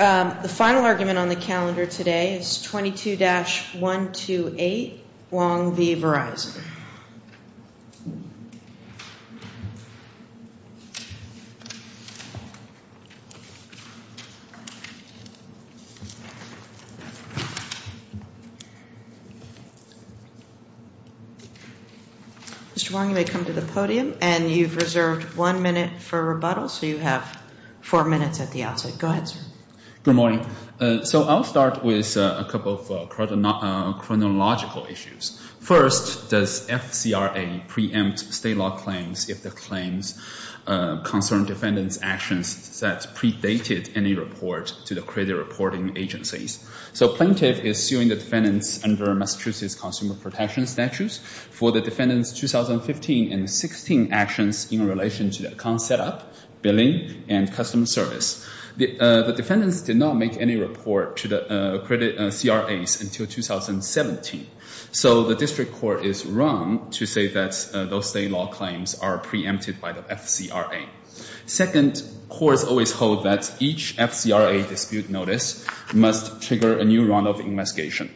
The final argument on the calendar today is 22-128 Wong v. Verizon. Mr. Wong, you may come to the podium and you've reserved one minute for rebuttal so you have four minutes at the outset. Good morning. So I'll start with a couple of chronological issues. First, does FCRA preempt state law claims if the claims concern defendants' actions that predated any report to the credit reporting agencies? So plaintiff is suing the defendants under Massachusetts Consumer Protection Statutes for the defendants' 2015 and 2016 actions in relation to the account setup, billing, and customer service. The defendants did not make any report to the credit CRAs until 2017. So the district court is wrong to say that those state law claims are preempted by the FCRA. Second, courts always hold that each FCRA dispute notice must trigger a new round of investigation.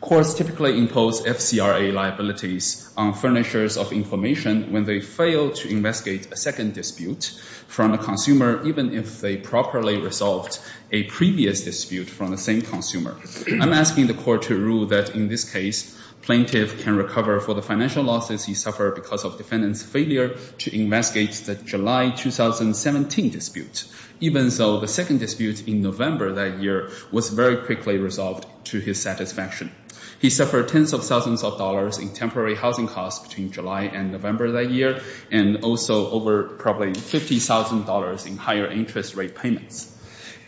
Courts typically impose FCRA liabilities on furnishers of information when they fail to investigate a second dispute from a consumer, even if they properly resolved a previous dispute from the same consumer. I'm asking the court to rule that in this case, plaintiff can recover for the financial losses he suffered because of defendant's failure to investigate the July 2017 dispute, even though the second dispute in November that year was very quickly resolved to his satisfaction. He suffered tens of thousands of dollars in temporary housing costs between July and November that year, and also over probably $50,000 in higher interest rate payments.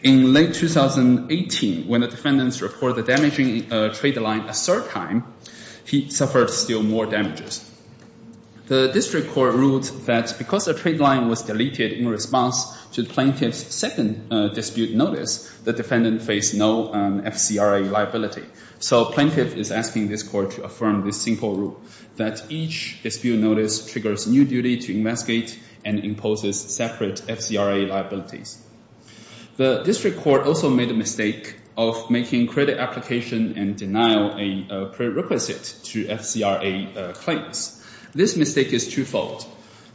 In late 2018, when the defendants reported a damaging trade line a third time, he suffered still more damages. The district court ruled that because a trade line was deleted in response to plaintiff's second dispute notice, the defendant faced no FCRA liability. So plaintiff is asking this court to affirm this simple rule, that each dispute notice triggers new duty to investigate and imposes separate FCRA liabilities. The district court also made a mistake of making credit application and denial a prerequisite to FCRA claims. This mistake is twofold.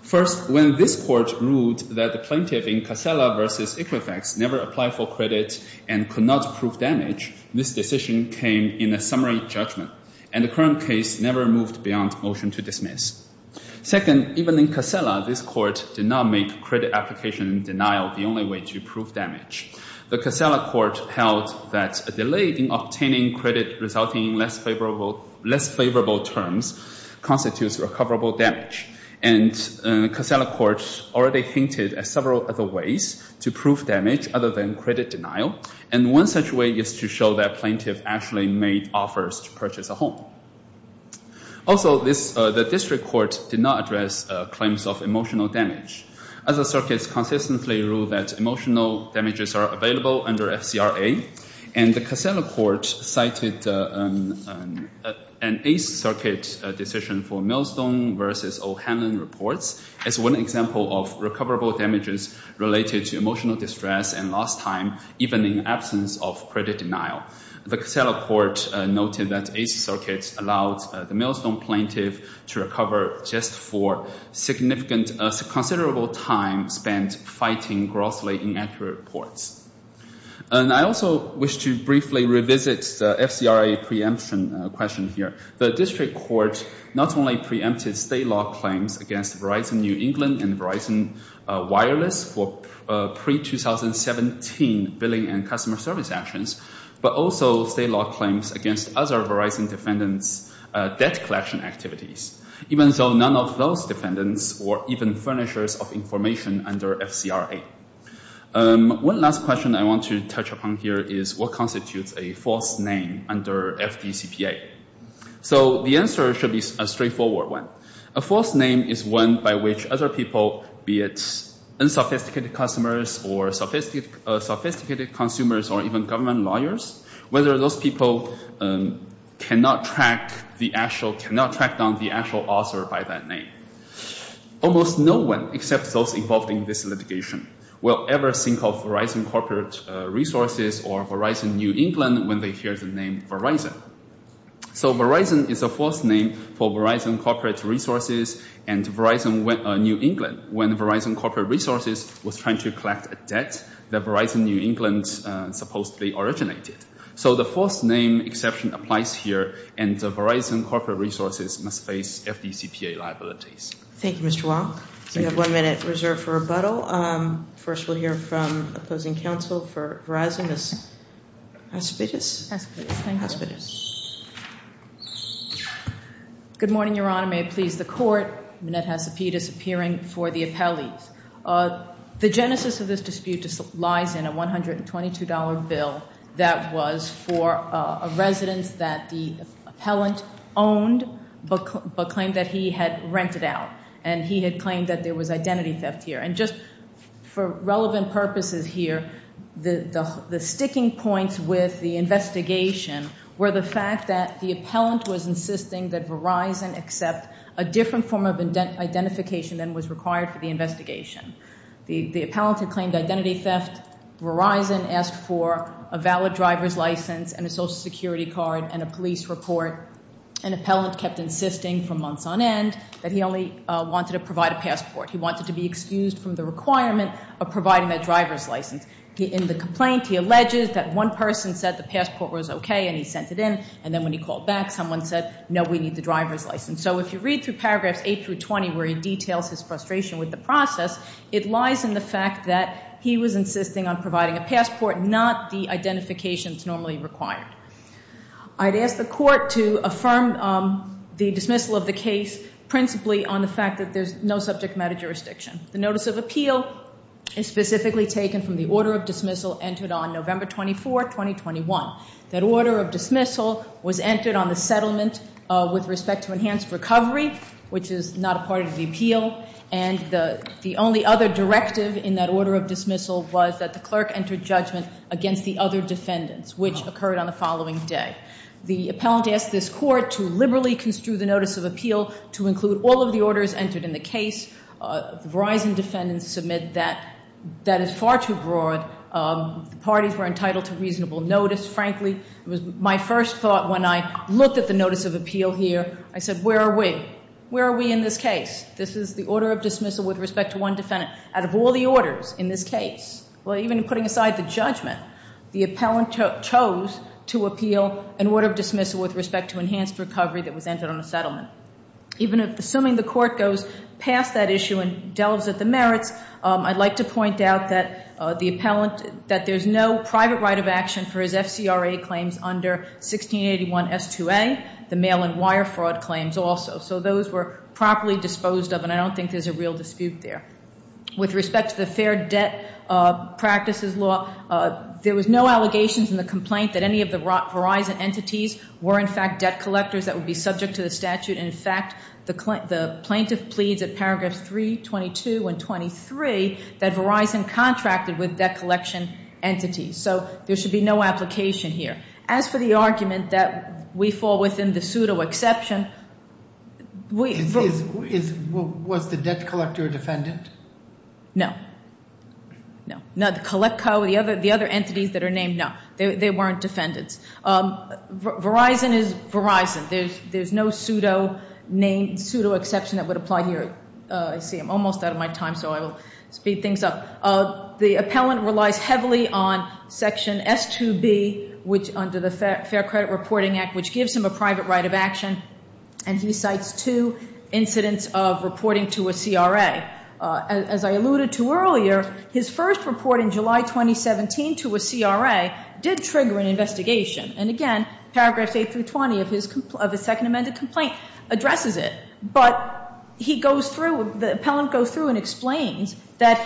First, when this court ruled that the plaintiff in Casella v. Equifax never applied for credit and could not prove damage, this decision came in a summary judgment, and the current case never moved beyond motion to dismiss. Second, even in Casella, this court did not make credit application and denial the only way to prove damage. The Casella court held that a delay in obtaining credit resulting in less favorable terms constitutes recoverable damage, and Casella court already hinted at several other ways to prove damage other than credit denial, and one such way is to show that plaintiff actually made offers to purchase a home. Also, the district court did not address claims of emotional damage. Other circuits consistently rule that emotional damages are available under FCRA, and the Casella court cited an 8th Circuit decision for Millstone v. O'Hanlon reports as one example of recoverable damages related to emotional distress and lost time, even in absence of credit denial. The Casella court noted that 8th Circuit allowed the Millstone plaintiff to recover just for significant considerable time spent fighting grossly inaccurate reports. And I also wish to briefly revisit the FCRA preemption question here. The district court not only preempted state law claims against Verizon New England and Verizon Wireless for pre-2017 billing and customer service actions, but also state law claims against other Verizon defendants' debt collection activities, even though none of those defendants were even furnishers of information under FCRA. One last question I want to touch upon here is what constitutes a false name under FDCPA. So the answer should be a straightforward one. A false name is one by which other people, be it unsophisticated customers or sophisticated consumers or even government lawyers, whether those people cannot track down the actual author by that name. Almost no one, except those involved in this litigation, will ever think of Verizon Corporate Resources or Verizon New England when they hear the name Verizon. So Verizon is a false name for Verizon Corporate Resources and Verizon New England, when Verizon Corporate Resources was trying to collect a debt that Verizon New England supposedly originated. So the false name exception applies here, and Verizon Corporate Resources must face FDCPA liabilities. Thank you, Mr. Wang. We have one minute reserved for rebuttal. First, we'll hear from opposing counsel for Verizon, Ms. Hacipedes. Hacipedes, thank you. Hacipedes. Good morning, Your Honor. May it please the Court. Annette Hacipedes appearing for the appellees. The genesis of this dispute lies in a $122 bill that was for a residence that the appellant owned but claimed that he had rented out, and he had claimed that there was identity theft here. And just for relevant purposes here, the sticking points with the investigation were the fact that the appellant was insisting that Verizon accept a different form of identification than was required for the investigation. The appellant had claimed identity theft. Verizon asked for a valid driver's license and a Social Security card and a police report. An appellant kept insisting for months on end that he only wanted to provide a passport. He wanted to be excused from the requirement of providing that driver's license. In the complaint, he alleges that one person said the passport was okay and he sent it in. And then when he called back, someone said, no, we need the driver's license. So if you read through paragraphs 8 through 20 where he details his frustration with the process, it lies in the fact that he was insisting on providing a passport, not the identification that's normally required. I'd ask the court to affirm the dismissal of the case principally on the fact that there's no subject matter jurisdiction. The notice of appeal is specifically taken from the order of dismissal entered on November 24, 2021. That order of dismissal was entered on the settlement with respect to enhanced recovery, which is not a part of the appeal. And the only other directive in that order of dismissal was that the clerk entered judgment against the other defendants, which occurred on the following day. The appellant asked this court to liberally construe the notice of appeal to include all of the orders entered in the case. The Verizon defendants submit that that is far too broad. The parties were entitled to reasonable notice. Frankly, it was my first thought when I looked at the notice of appeal here. I said, where are we? Where are we in this case? This is the order of dismissal with respect to one defendant. Out of all the orders in this case, well, even putting aside the judgment, the appellant chose to appeal an order of dismissal with respect to enhanced recovery that was entered on the settlement. Even assuming the court goes past that issue and delves at the merits, I'd like to point out that the appellant, that there's no private right of action for his FCRA claims under 1681 S2A, the mail and wire fraud claims also. So those were properly disposed of, and I don't think there's a real dispute there. With respect to the fair debt practices law, there was no allegations in the complaint that any of the Verizon entities were in fact debt collectors that would be subject to the statute. In fact, the plaintiff pleads at paragraphs 322 and 23 that Verizon contracted with debt collection entities. So there should be no application here. As for the argument that we fall within the pseudo-exception, we- Was the debt collector a defendant? No. No. The collect co, the other entities that are named, no. They weren't defendants. Verizon is Verizon. There's no pseudo-name, pseudo-exception that would apply here. I see I'm almost out of my time, so I will speed things up. The appellant relies heavily on section S2B, which under the Fair Credit Reporting Act, which gives him a private right of action, and he cites two incidents of reporting to a CRA. As I alluded to earlier, his first report in July 2017 to a CRA did trigger an investigation. And again, paragraphs 8 through 20 of his second amended complaint addresses it. But he goes through, the appellant goes through and explains that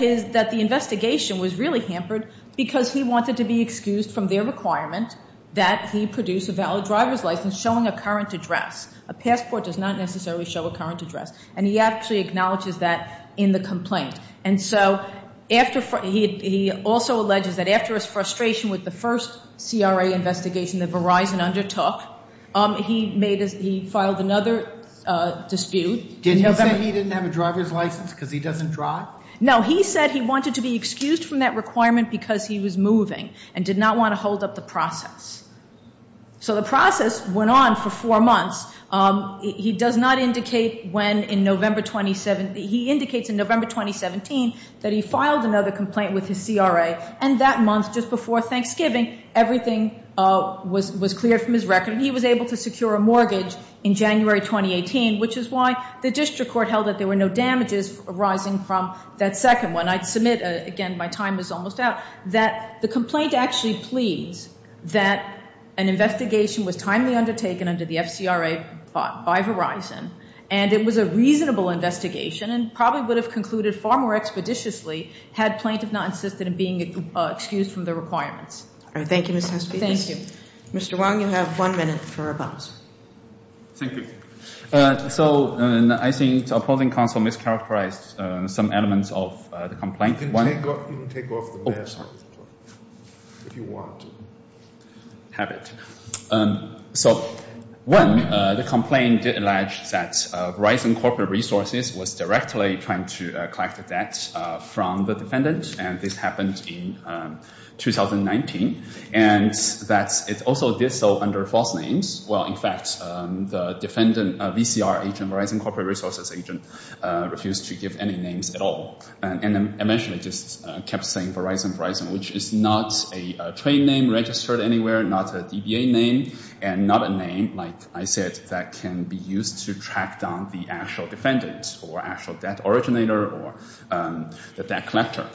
the investigation was really hampered because he wanted to be excused from their requirement that he produce a valid driver's license showing a current address. A passport does not necessarily show a current address. And he actually acknowledges that in the complaint. And so he also alleges that after his frustration with the first CRA investigation that Verizon undertook, he filed another dispute. Did he say he didn't have a driver's license because he doesn't drive? No, he said he wanted to be excused from that requirement because he was moving and did not want to hold up the process. So the process went on for four months. He does not indicate when in November 2017. He indicates in November 2017 that he filed another complaint with his CRA. And that month, just before Thanksgiving, everything was cleared from his record. He was able to secure a mortgage in January 2018, which is why the district court held that there were no damages arising from that second one. I'd submit, again, my time is almost out, that the complaint actually pleads that an investigation was timely undertaken under the FCRA by Verizon. And it was a reasonable investigation and probably would have concluded far more expeditiously had plaintiff not insisted on being excused from the requirements. All right. Thank you, Ms. Hesby. Thank you. Mr. Wang, you have one minute for rebuttal. Thank you. So I think opposing counsel mischaracterized some elements of the complaint. You can take off the mask if you want to. I have it. So, one, the complaint alleged that Verizon Corporate Resources was directly trying to collect the debt from the defendant. And this happened in 2019. And that it also did so under false names. Well, in fact, the defendant, VCR agent, Verizon Corporate Resources agent, refused to give any names at all. And eventually just kept saying Verizon, Verizon, which is not a trade name registered anywhere, not a DBA name, and not a name, like I said, that can be used to track down the actual defendant or actual debt originator or the debt collector.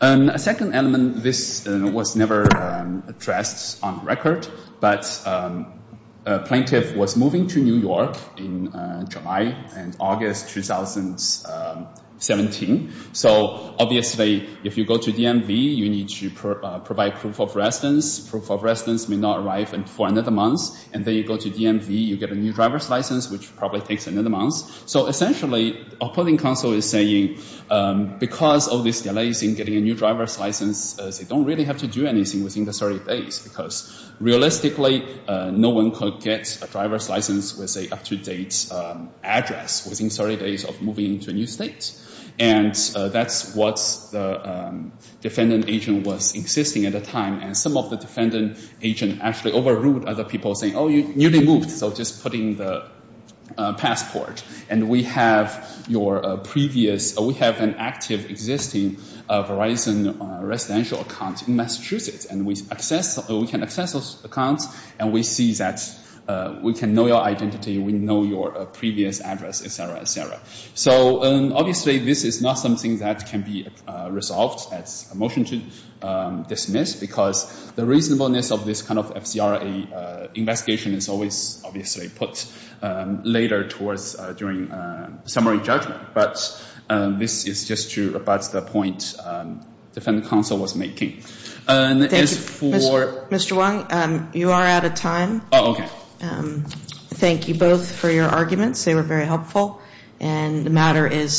A second element, this was never addressed on record, but a plaintiff was moving to New York in July and August 2017. So, obviously, if you go to DMV, you need to provide proof of residence. Proof of residence may not arrive for another month. And then you go to DMV, you get a new driver's license, which probably takes another month. So, essentially, opposing counsel is saying, because of these delays in getting a new driver's license, they don't really have to do anything within the 30 days. Because, realistically, no one could get a driver's license with an up-to-date address within 30 days of moving into a new state. And that's what the defendant agent was insisting at the time. And some of the defendant agents actually overruled other people, saying, oh, you newly moved, so just put in the passport, and we have your previous, we have an active existing Verizon residential account in Massachusetts. And we can access those accounts, and we see that we can know your identity, So, obviously, this is not something that can be resolved as a motion to dismiss, because the reasonableness of this kind of FCRA investigation is always, obviously, put later during summary judgment. But this is just about the point defendant counsel was making. Thank you. Mr. Wang, you are out of time. Oh, okay. Thank you both for your arguments. They were very helpful. And the matter is submitted.